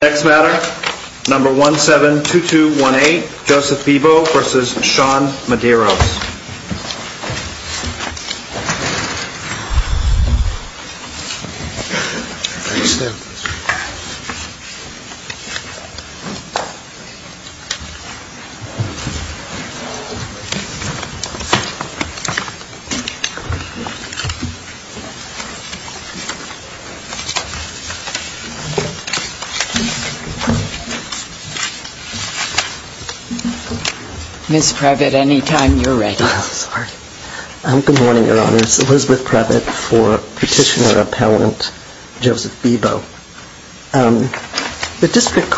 Next matter, number 172218, Joseph Bebo v. Sean Medeiros The District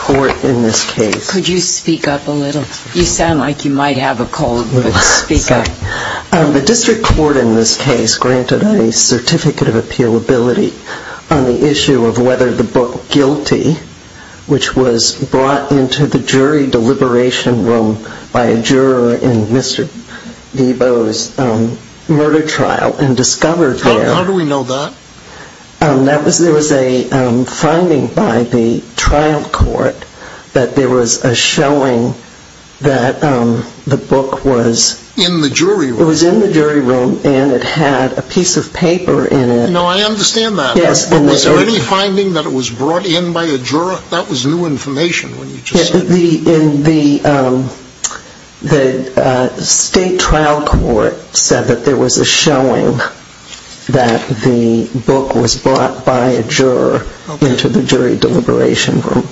Court in this case granted a certificate of appealability on the issue of whether the book, Guilty, which was brought into the jury deliberation room by a juror in Mr. Bebo's murder trial and discovered there... How do we know that? There was a finding by the trial court that there was a showing that the book was... In the jury room? It was in the jury room and it had a piece of paper in it. No, I understand that. Yes. Was there any finding that it was brought in by a juror? That was new information when you just said that. The state trial court said that there was a showing that the book was brought by a juror into the jury deliberation room.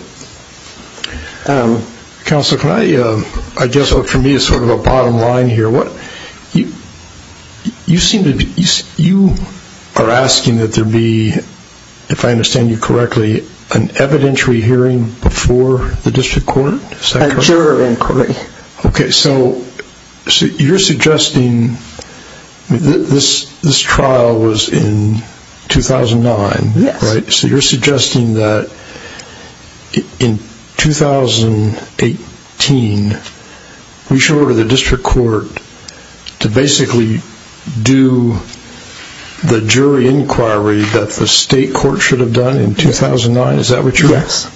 Counsel, can I... I guess for me it's sort of a bottom line here. You are asking that there be, if I understand you correctly, an evidentiary hearing before the district court? Is that correct? A juror inquiry. Okay, so you're suggesting this trial was in 2009, right? Yes. So you're suggesting that in 2018, we should order the district court to basically do the jury inquiry that the state court should have done in 2009? Is that what you're... Yes.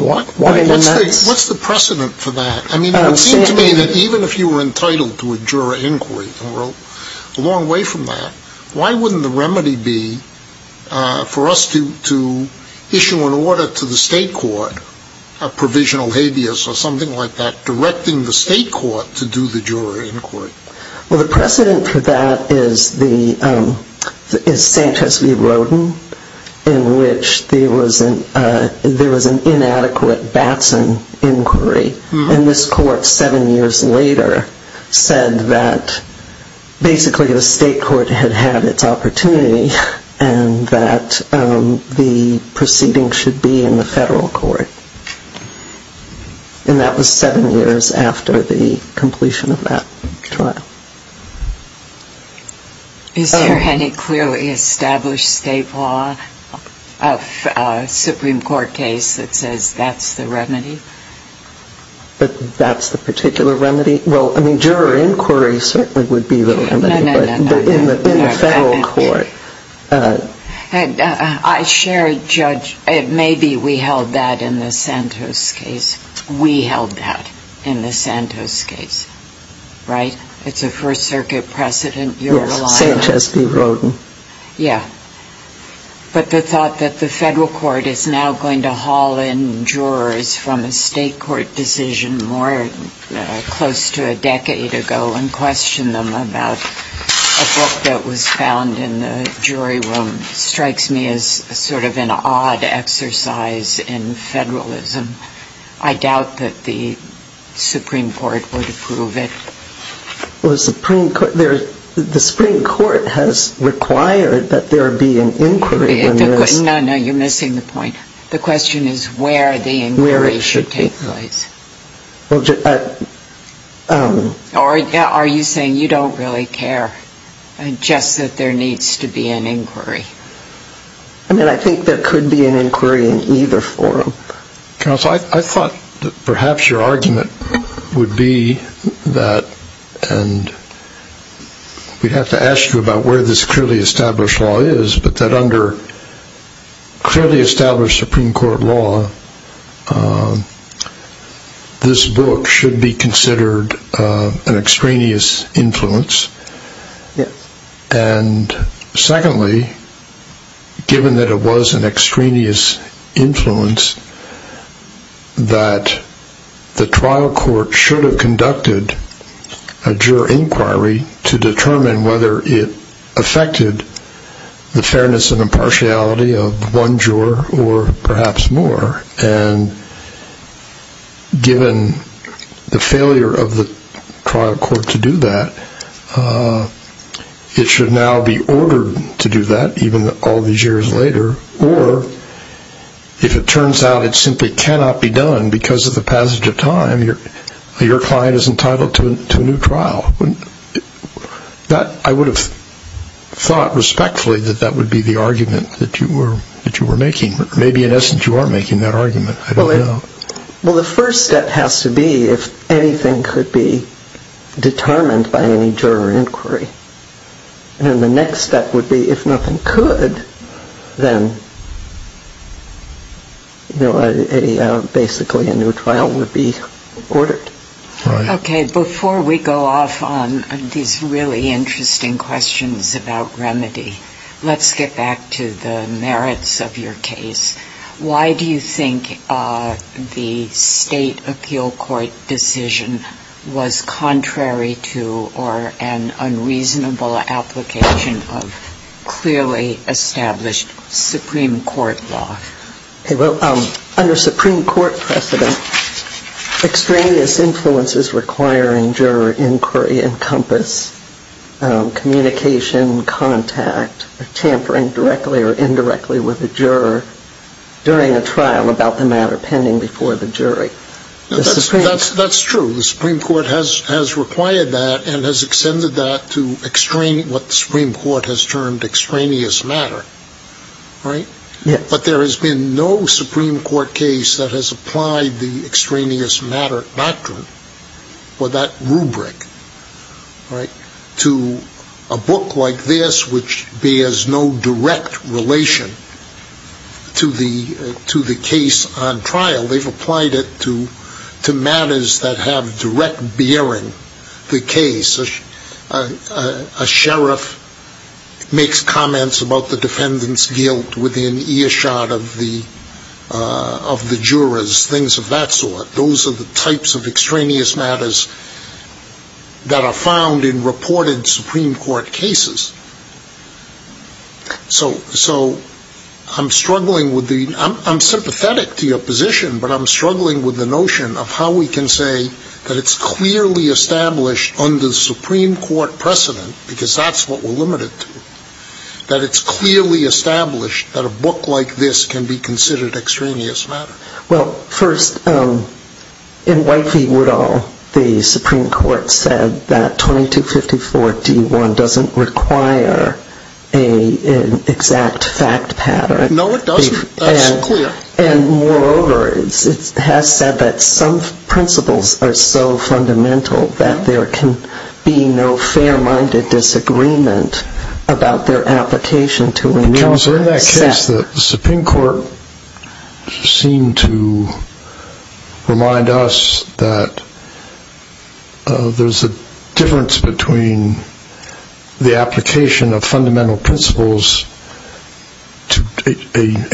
What? Why? What's the precedent for that? I mean, it would seem to me that even if you were entitled to a juror inquiry, and we're a long way from that, why wouldn't the remedy be for us to issue an order to the state court of provisional habeas or something like that, directing the state court to do the juror inquiry? Well, the precedent for that is Sanchez v. Rodin, in which there was an inadequate Batson inquiry. And this court, seven years later, said that basically the state court had had its opportunity and that the proceeding should be in the federal court. And that was seven years after the completion of that trial. Is there any clearly established state law of a Supreme Court case that says that's the remedy? But that's the particular remedy? Well, I mean, juror inquiry certainly would be the remedy, but in the federal court... I share a judge... Maybe we held that in the Santos case. We held that in the Santos case, right? It's a First Circuit precedent. Yes, Sanchez v. Rodin. Yeah. But the thought that the federal court is now going to haul in jurors from a state court decision more close to a decade ago and question them about a book that was found in the jury room strikes me as sort of an odd exercise in federalism. I doubt that the Supreme Court would approve it. The Supreme Court has required that there be an inquiry. No, no, you're missing the point. The question is where the inquiry should take place. Are you saying you don't really care, just that there needs to be an inquiry? I mean, I think there could be an inquiry in either forum. Counsel, I thought that perhaps your argument would be that, and we'd have to ask you about where this clearly established law is, but that under clearly established Supreme Court law, this book should be considered an extraneous influence, and secondly, given that it was an extraneous influence, that the trial court should have conducted a juror inquiry to determine whether it affected the fairness and impartiality of one juror or perhaps more. And given the failure of the trial court to do that, it should now be ordered to do that, even all these years later, or if it turns out it simply cannot be done because of the passage of time, your client is entitled to a new trial. I would have thought respectfully that that would be the argument that you were making. Maybe in essence you are making that argument, I don't know. Well, the first step has to be if anything could be determined by any juror inquiry. And then the next step would be if nothing could, then basically a new trial would be ordered. Okay, before we go off on these really interesting questions about remedy, let's get back to the merits of your case. Why do you think the state appeal court decision was contrary to or an unreasonable application of clearly established Supreme Court law? Okay, well, under Supreme Court precedent, extraneous influences requiring juror inquiry encompass communication, contact, tampering directly or indirectly with a juror during a trial about the matter pending before the jury. That's true. The Supreme Court has required that and has extended that to what the Supreme Court has termed extraneous matter, right? But there has been no Supreme Court case that has applied the extraneous matter doctrine or that rubric, right, to a book like this which bears no direct relation to the case on trial. They've applied it to matters that have direct bearing to the case. A sheriff makes comments about the defendant's guilt within earshot of the jurors, things of that sort. Those are the types of extraneous matters that are found in reported Supreme Court cases. So I'm struggling with the, I'm sympathetic to your position, but I'm struggling with the notion of how we can say that it's clearly established under Supreme Court precedent, because that's what we're limited to, that it's clearly established that a book like this can be considered extraneous matter. Well, first, in White v. Woodall, the Supreme Court said that 2254-D1 doesn't require an exact fact pattern. No, it doesn't. That's clear. And moreover, it has said that some principles are so fundamental that there can be no fair-minded disagreement about their application to a new set. Counsel, in that case, the Supreme Court seemed to remind us that there's a difference between the application of fundamental principles to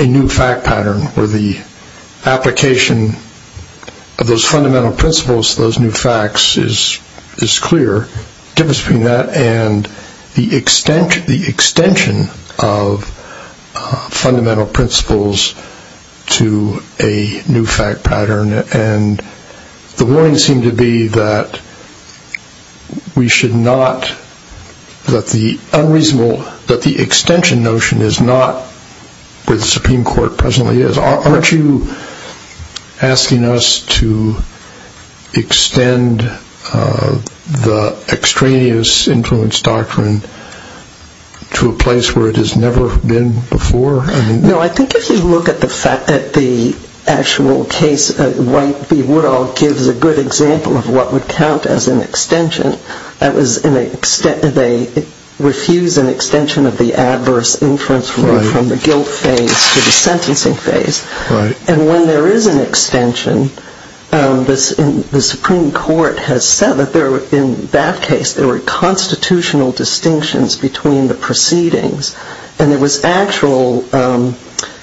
a new fact pattern, or the application of those fundamental principles to those new facts is clear, the difference between that and the extension of fundamental principles to a new fact pattern. And the warning seemed to be that we should not, that the unreasonable, that the extension notion is not where the Supreme Court presently is. Aren't you asking us to extend the extraneous influence doctrine to a place where it has never been before? No, I think if you look at the actual case, White v. Woodall gives a good example of what would count as an extension. That was, they refused an extension of the adverse influence from the guilt phase to the sentencing phase. And when there is an extension, the Supreme Court has said that there, in that case, there were constitutional distinctions between the proceedings. And there was actual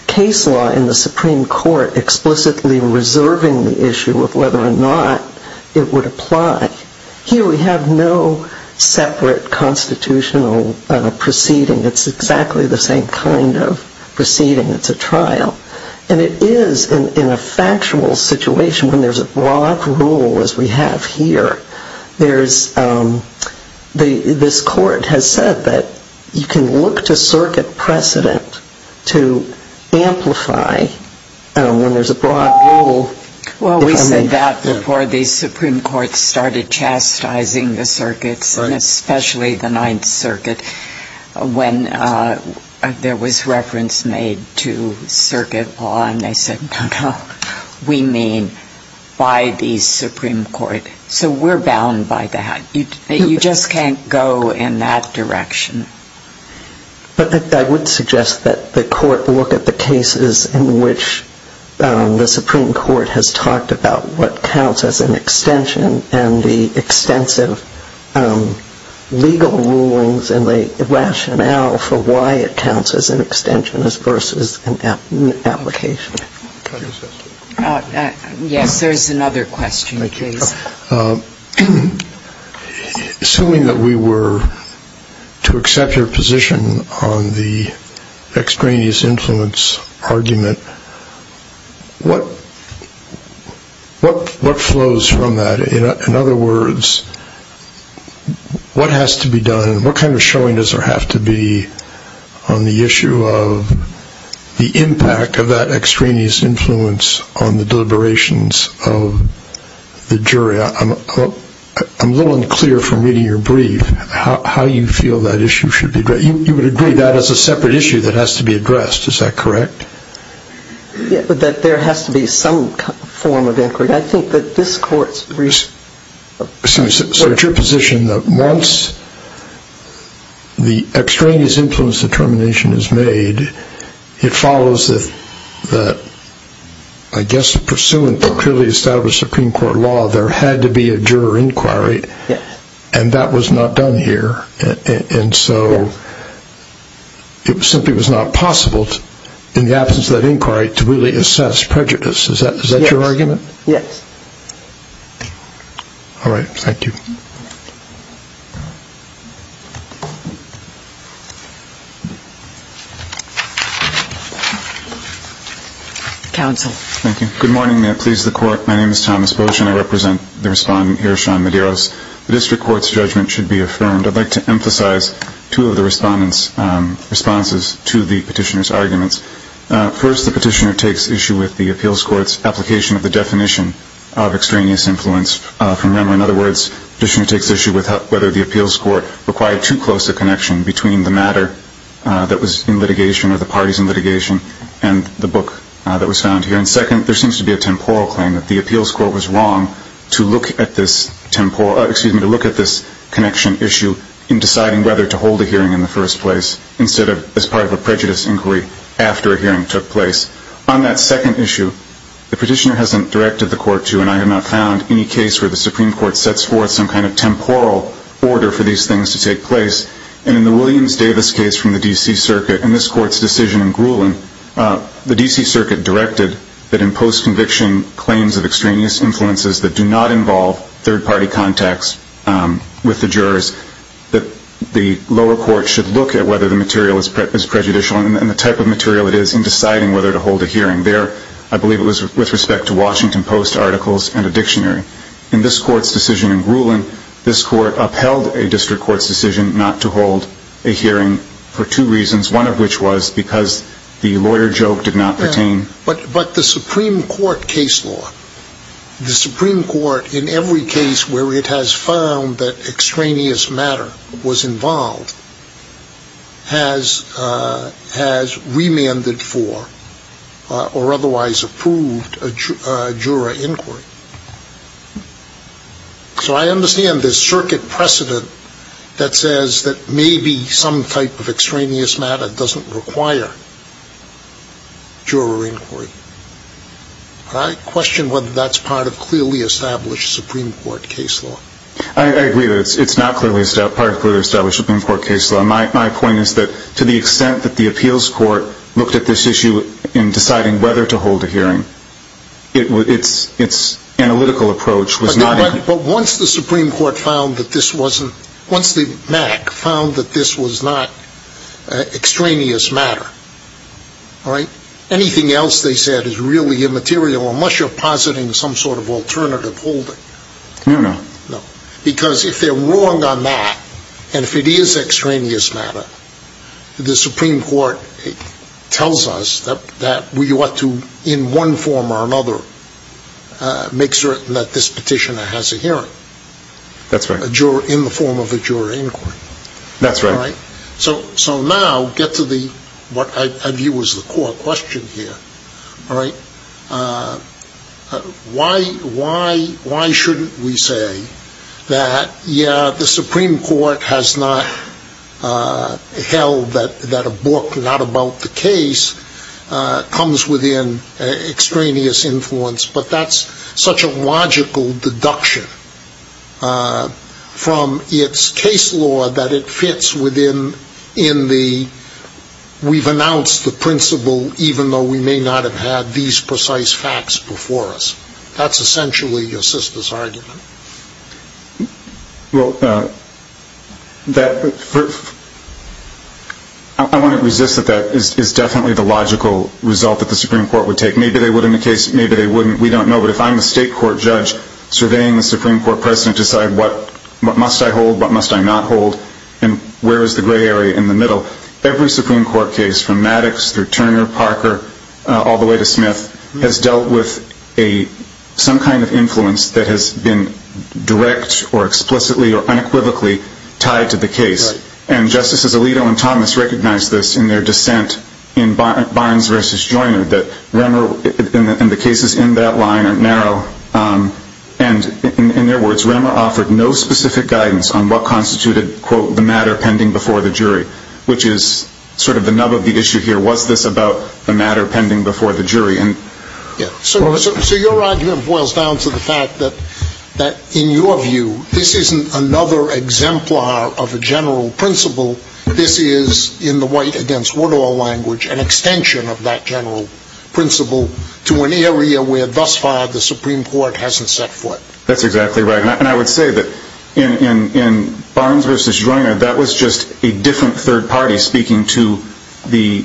case law in the Supreme Court explicitly reserving the issue of whether or not it would apply. Here we have no separate constitutional proceeding. It's exactly the same kind of proceeding. It's a trial. And it is, in a factual situation, when there's a broad rule as we have here, there's, this Court has said that you can look to circuit precedent to amplify when there's a broad rule. Well, we said that before the Supreme Court started chastising the circuits, and especially the Ninth Circuit, when there was reference made to circuit law. And they said, no, no, we mean by the Supreme Court. So we're bound by that. You just can't go in that direction. But I would suggest that the Court look at the cases in which the Supreme Court has talked about what counts as an extension and the extensive legal rulings and the rationale for why it counts as an extension versus an application. Yes, there's another question, please. Assuming that we were to accept your position on the extraneous influence argument, what flows from that? In other words, what has to be done, what kind of showing does there have to be on the issue of the impact of that extraneous influence on the deliberations of the jury? I'm a little unclear from reading your brief how you feel that issue should be addressed. You would agree that is a separate issue that has to be addressed, is that correct? That there has to be some form of inquiry. I think that this Court's brief... So it's your position that once the extraneous influence determination is made, it follows that, I guess, pursuant to clearly established Supreme Court law, there had to be a juror inquiry, and that was not done here. And so it simply was not possible in the absence of that inquiry to really assess prejudice. Is that your argument? Yes. All right, thank you. Counsel. Thank you. Good morning. May it please the Court, my name is Thomas Bolshan. I represent the Respondent here, Sean Medeiros. The District Court's judgment should be affirmed. I'd like to emphasize two of the Respondent's responses to the Petitioner's arguments. First, the Petitioner takes issue with the Appeals Court's application of the definition of extraneous influence from Remmer. In other words, the Petitioner takes issue with whether the Appeals Court required too close a connection between the matter that was in litigation, or the parties in litigation, and the book that was found here. And second, there seems to be a temporal claim that the Appeals Court was wrong to look at this connection issue in deciding whether to hold a hearing in the first place, instead of as part of a prejudice inquiry after a hearing took place. On that second issue, the Petitioner hasn't directed the Court to, and I have not found any case where the Supreme Court sets forth some kind of temporal order for these things to take place. And in the Williams-Davis case from the D.C. Circuit, in this Court's decision in Grulin, the D.C. Circuit directed that in post-conviction claims of extraneous influences that do not involve third-party contacts with the jurors, that the lower court should look at whether the material is prejudicial, and the type of material it is, in deciding whether to hold a hearing. There, I believe it was with respect to Washington Post articles and a dictionary. In this Court's decision in Grulin, this Court upheld a district court's decision not to hold a hearing for two reasons, one of which was because the lawyer joke did not pertain. But the Supreme Court case law, the Supreme Court in every case where it has found that extraneous matter was involved, has remanded for, or otherwise approved, a juror inquiry. So I understand this Circuit precedent that says that maybe some type of extraneous matter doesn't require juror inquiry. But I question whether that's part of clearly established Supreme Court case law. I agree that it's not part of clearly established Supreme Court case law. My point is that to the extent that the appeals court looked at this issue in deciding whether to hold a hearing, its analytical approach was not... But once the Supreme Court found that this wasn't, once the MAC found that this was not extraneous matter, anything else they said is really immaterial unless you're positing some sort of alternative holding. No, no. Because if they're wrong on that, and if it is extraneous matter, the Supreme Court tells us that we ought to, in one form or another, make certain that this petitioner has a hearing. That's right. In the form of a juror inquiry. That's right. So now, get to what I view as the core question here. Why shouldn't we say that, yeah, the Supreme Court has not held that a book not about the case comes within extraneous influence, but that's such a logical deduction from its case law that it fits within the, we've announced the principle even though we may not have had these precise facts before us. That's essentially your sister's argument. Well, I want to resist that that is definitely the logical result that the Supreme Court would take. Maybe they would in the case, maybe they wouldn't, we don't know. But if I'm the state court judge surveying the Supreme Court president to decide what must I hold, what must I not hold, and where is the gray area in the middle, every Supreme Court case from Maddox through Turner, Parker, all the way to Smith, has dealt with some kind of influence that has been direct or explicitly or unequivocally tied to the case. And Justices Alito and Thomas recognized this in their dissent in Barnes v. Joyner that Remmer, and the cases in that line are narrow, and in their words, Remmer offered no specific guidance on what constituted, quote, the matter pending before the jury, which is sort of the nub of the issue here. So your argument boils down to the fact that, in your view, this isn't another exemplar of a general principle. This is, in the White v. Woodall language, an extension of that general principle to an area where thus far the Supreme Court hasn't set foot. That's exactly right. And I would say that in Barnes v. Joyner, that was just a different third party speaking to the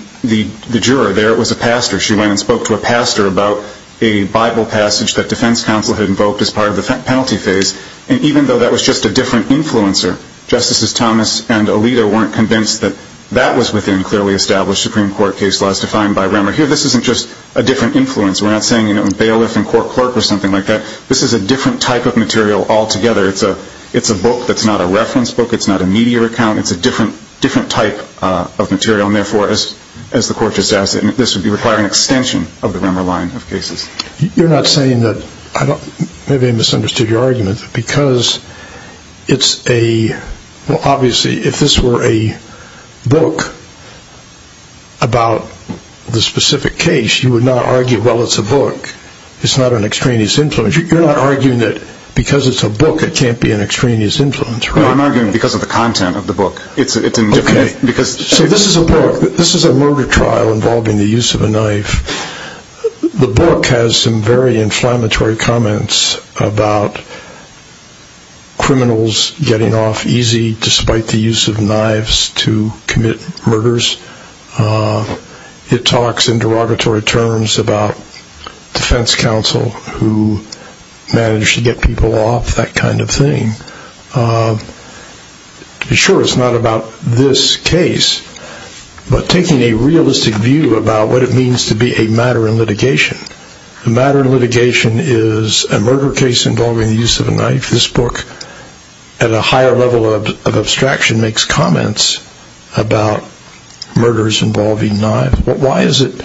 juror. There it was a pastor. She went and spoke to a pastor about a Bible passage that defense counsel had invoked as part of the penalty phase. And even though that was just a different influencer, Justices Thomas and Alito weren't convinced that that was within clearly established Supreme Court case laws defined by Remmer. Here this isn't just a different influence. We're not saying, you know, bailiff and court clerk or something like that. This is a different type of material altogether. It's a book that's not a reference book. It's not a media account. It's a different type of material. And therefore, as the court just asked, this would require an extension of the Remmer line of cases. You're not saying that, maybe I misunderstood your argument, that because it's a, well, obviously if this were a book about the specific case, you would not argue, well, it's a book. It's not an extraneous influence. You're not arguing that because it's a book it can't be an extraneous influence, right? No, I'm arguing because of the content of the book. Okay. So this is a book. This is a murder trial involving the use of a knife. The book has some very inflammatory comments about criminals getting off easy despite the use of knives to commit murders. It talks in derogatory terms about defense counsel who managed to get people off, that kind of thing. Sure, it's not about this case, but taking a realistic view about what it means to be a matter in litigation. A matter in litigation is a murder case involving the use of a knife. This book, at a higher level of abstraction, makes comments about murders involving knives. Why is it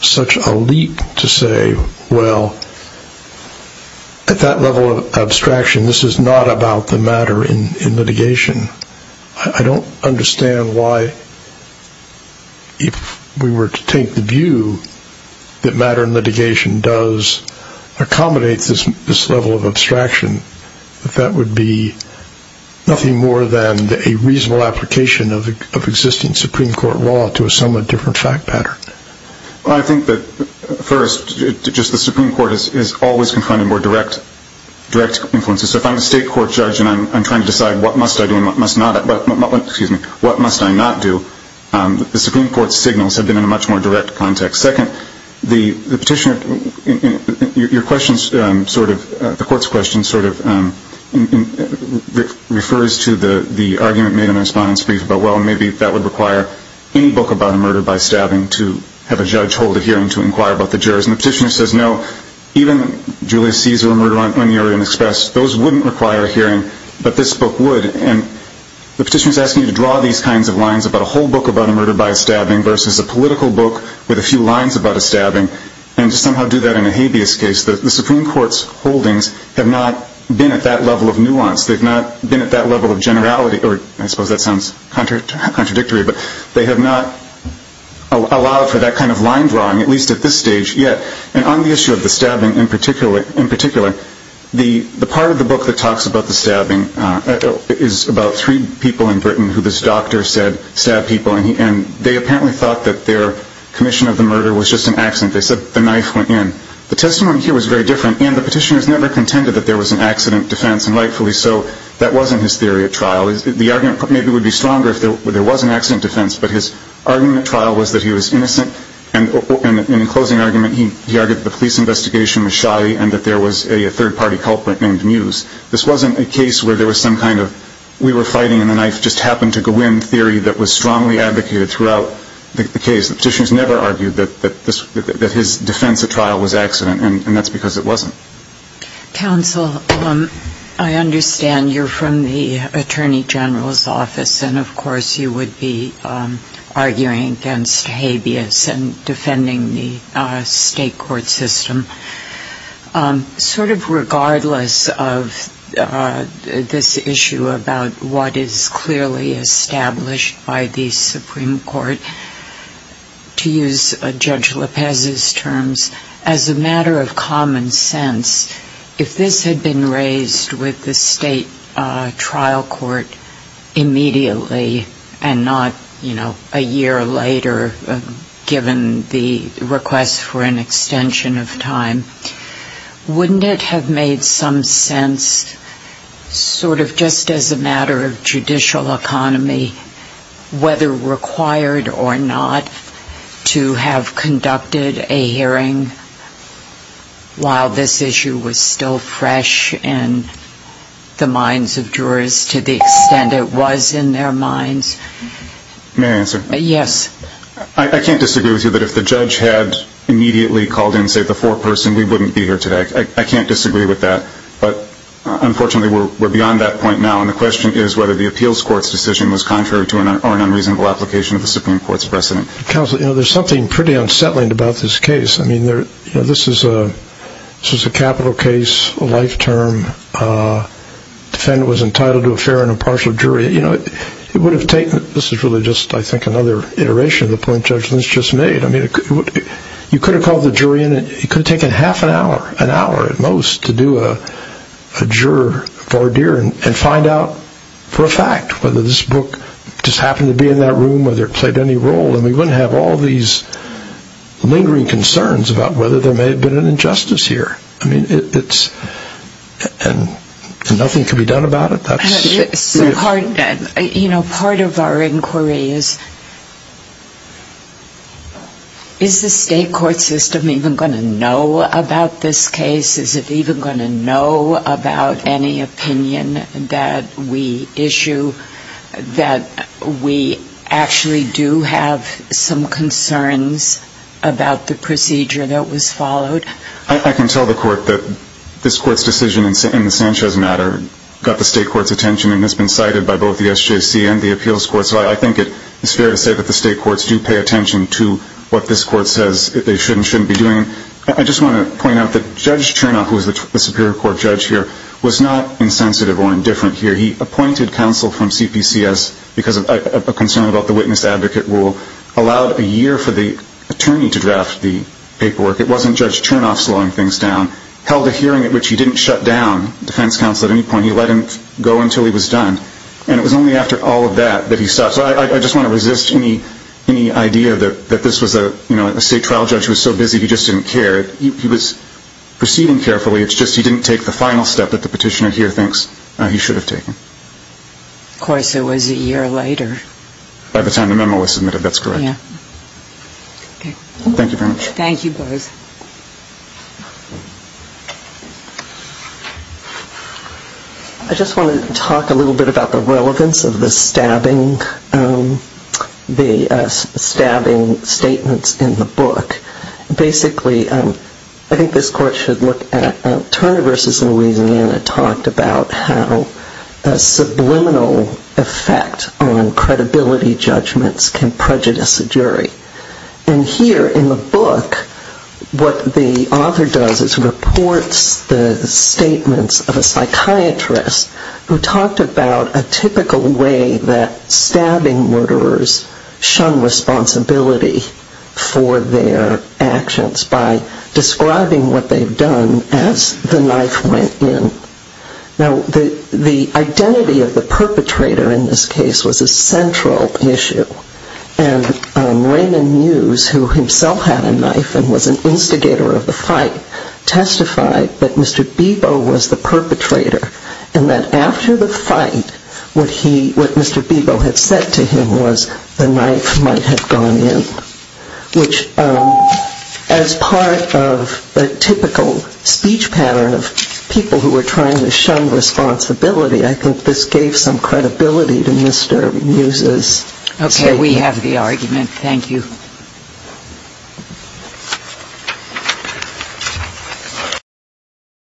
such a leak to say, well, at that level of abstraction, this is not about the matter in litigation? I don't understand why, if we were to take the view that matter in litigation does accommodate this level of abstraction, that that would be nothing more than a reasonable application of existing Supreme Court law to a somewhat different fact pattern. Well, I think that, first, just the Supreme Court is always confronted more direct influences. So if I'm a state court judge and I'm trying to decide what must I do and what must I not do, the Supreme Court's signals have been in a much more direct context. Second, the court's question sort of refers to the argument made in the respondent's brief about, well, maybe that would require any book about a murder by stabbing to have a judge hold a hearing to inquire about the jurors. And the petitioner says, no, even Julius Caesar murder on the Orient Express, those wouldn't require a hearing, but this book would. And the petitioner is asking you to draw these kinds of lines about a whole book about a murder by stabbing versus a political book with a few lines about a stabbing and to somehow do that in a habeas case. The Supreme Court's holdings have not been at that level of nuance. They've not been at that level of generality, or I suppose that sounds contradictory, but they have not allowed for that kind of line drawing, at least at this stage yet. And on the issue of the stabbing in particular, the part of the book that talks about the stabbing is about three people in Britain who this doctor said stabbed people, and they apparently thought that their commission of the murder was just an accident. They said the knife went in. The testimony here was very different, and the petitioner has never contended that there was an accident defense, and rightfully so, that wasn't his theory at trial. The argument maybe would be stronger if there was an accident defense, but his argument at trial was that he was innocent, and in the closing argument, he argued that the police investigation was shy and that there was a third-party culprit named Muse. This wasn't a case where there was some kind of we-were-fighting-and-the-knife-just-happened-to-go-in theory that was strongly advocated throughout the case. The petitioner has never argued that his defense at trial was accident, and that's because it wasn't. Counsel, I understand you're from the Attorney General's office, and of course you would be arguing against habeas and defending the state court system. Sort of regardless of this issue about what is clearly established by the Supreme Court, to use Judge Lopez's terms, as a matter of common sense, if this had been raised with the state trial court immediately and not, you know, a year later, given the request for an extension of time, wouldn't it have made some sense sort of just as a matter of judicial economy, whether required or not, to have conducted a hearing while this issue was still fresh in the minds of jurors to the extent it was in their minds? May I answer? Yes. I can't disagree with you that if the judge had immediately called in, say, the foreperson, we wouldn't be here today. I can't disagree with that. But, unfortunately, we're beyond that point now, and the question is whether the appeals court's decision was contrary to or an unreasonable application of the Supreme Court's precedent. Counsel, you know, there's something pretty unsettling about this case. I mean, this is a capital case, a life term. Defendant was entitled to a fair and impartial jury. You know, it would have taken – this is really just, I think, another iteration of the point Judge Lynch just made. I mean, you could have called the jury in and it could have taken half an hour, an hour at most, to do a juror voir dire and find out for a fact whether this book just happened to be in that room, whether it played any role, and we wouldn't have all these lingering concerns about whether there may have been an injustice here. I mean, it's – and nothing can be done about it. You know, part of our inquiry is, is the state court system even going to know about this case? Is it even going to know about any opinion that we issue, that we actually do have some concerns about the procedure that was followed? I can tell the court that this court's decision in the Sanchez matter got the state court's attention and has been cited by both the SJC and the appeals court, so I think it's fair to say that the state courts do pay attention to what this court says they should and shouldn't be doing. I just want to point out that Judge Chernow, who is the Superior Court judge here, was not insensitive or indifferent here. He appointed counsel from CPCS because of a concern about the witness-advocate rule, allowed a year for the attorney to draft the paperwork. It wasn't Judge Chernow slowing things down. Held a hearing at which he didn't shut down defense counsel at any point. He let him go until he was done. And it was only after all of that that he stopped. So I just want to resist any idea that this was a state trial judge who was so busy he just didn't care. He was proceeding carefully. It's just he didn't take the final step that the petitioner here thinks he should have taken. Of course, it was a year later. By the time the memo was submitted, that's correct. Yeah. Okay. Thank you very much. Thank you, both. I just wanted to talk a little bit about the relevance of the stabbing statements in the book. Basically, I think this Court should look at Turner v. Louisiana talked about how a subliminal effect on credibility judgments can prejudice a jury. And here in the book, what the author does is reports the statements of a psychiatrist who talked about a typical way that stabbing murderers shun responsibility for their actions by describing what they've done as the knife went in. Now, the identity of the perpetrator in this case was a central issue. And Raymond Muse, who himself had a knife and was an instigator of the fight, testified that Mr. Bebo was the perpetrator and that after the fight, what Mr. Bebo had said to him was the knife might have gone in, which as part of the typical speech pattern of people who were trying to shun responsibility, I think this gave some credibility to Mr. Muse's statement. Okay. We have the argument. Thank you.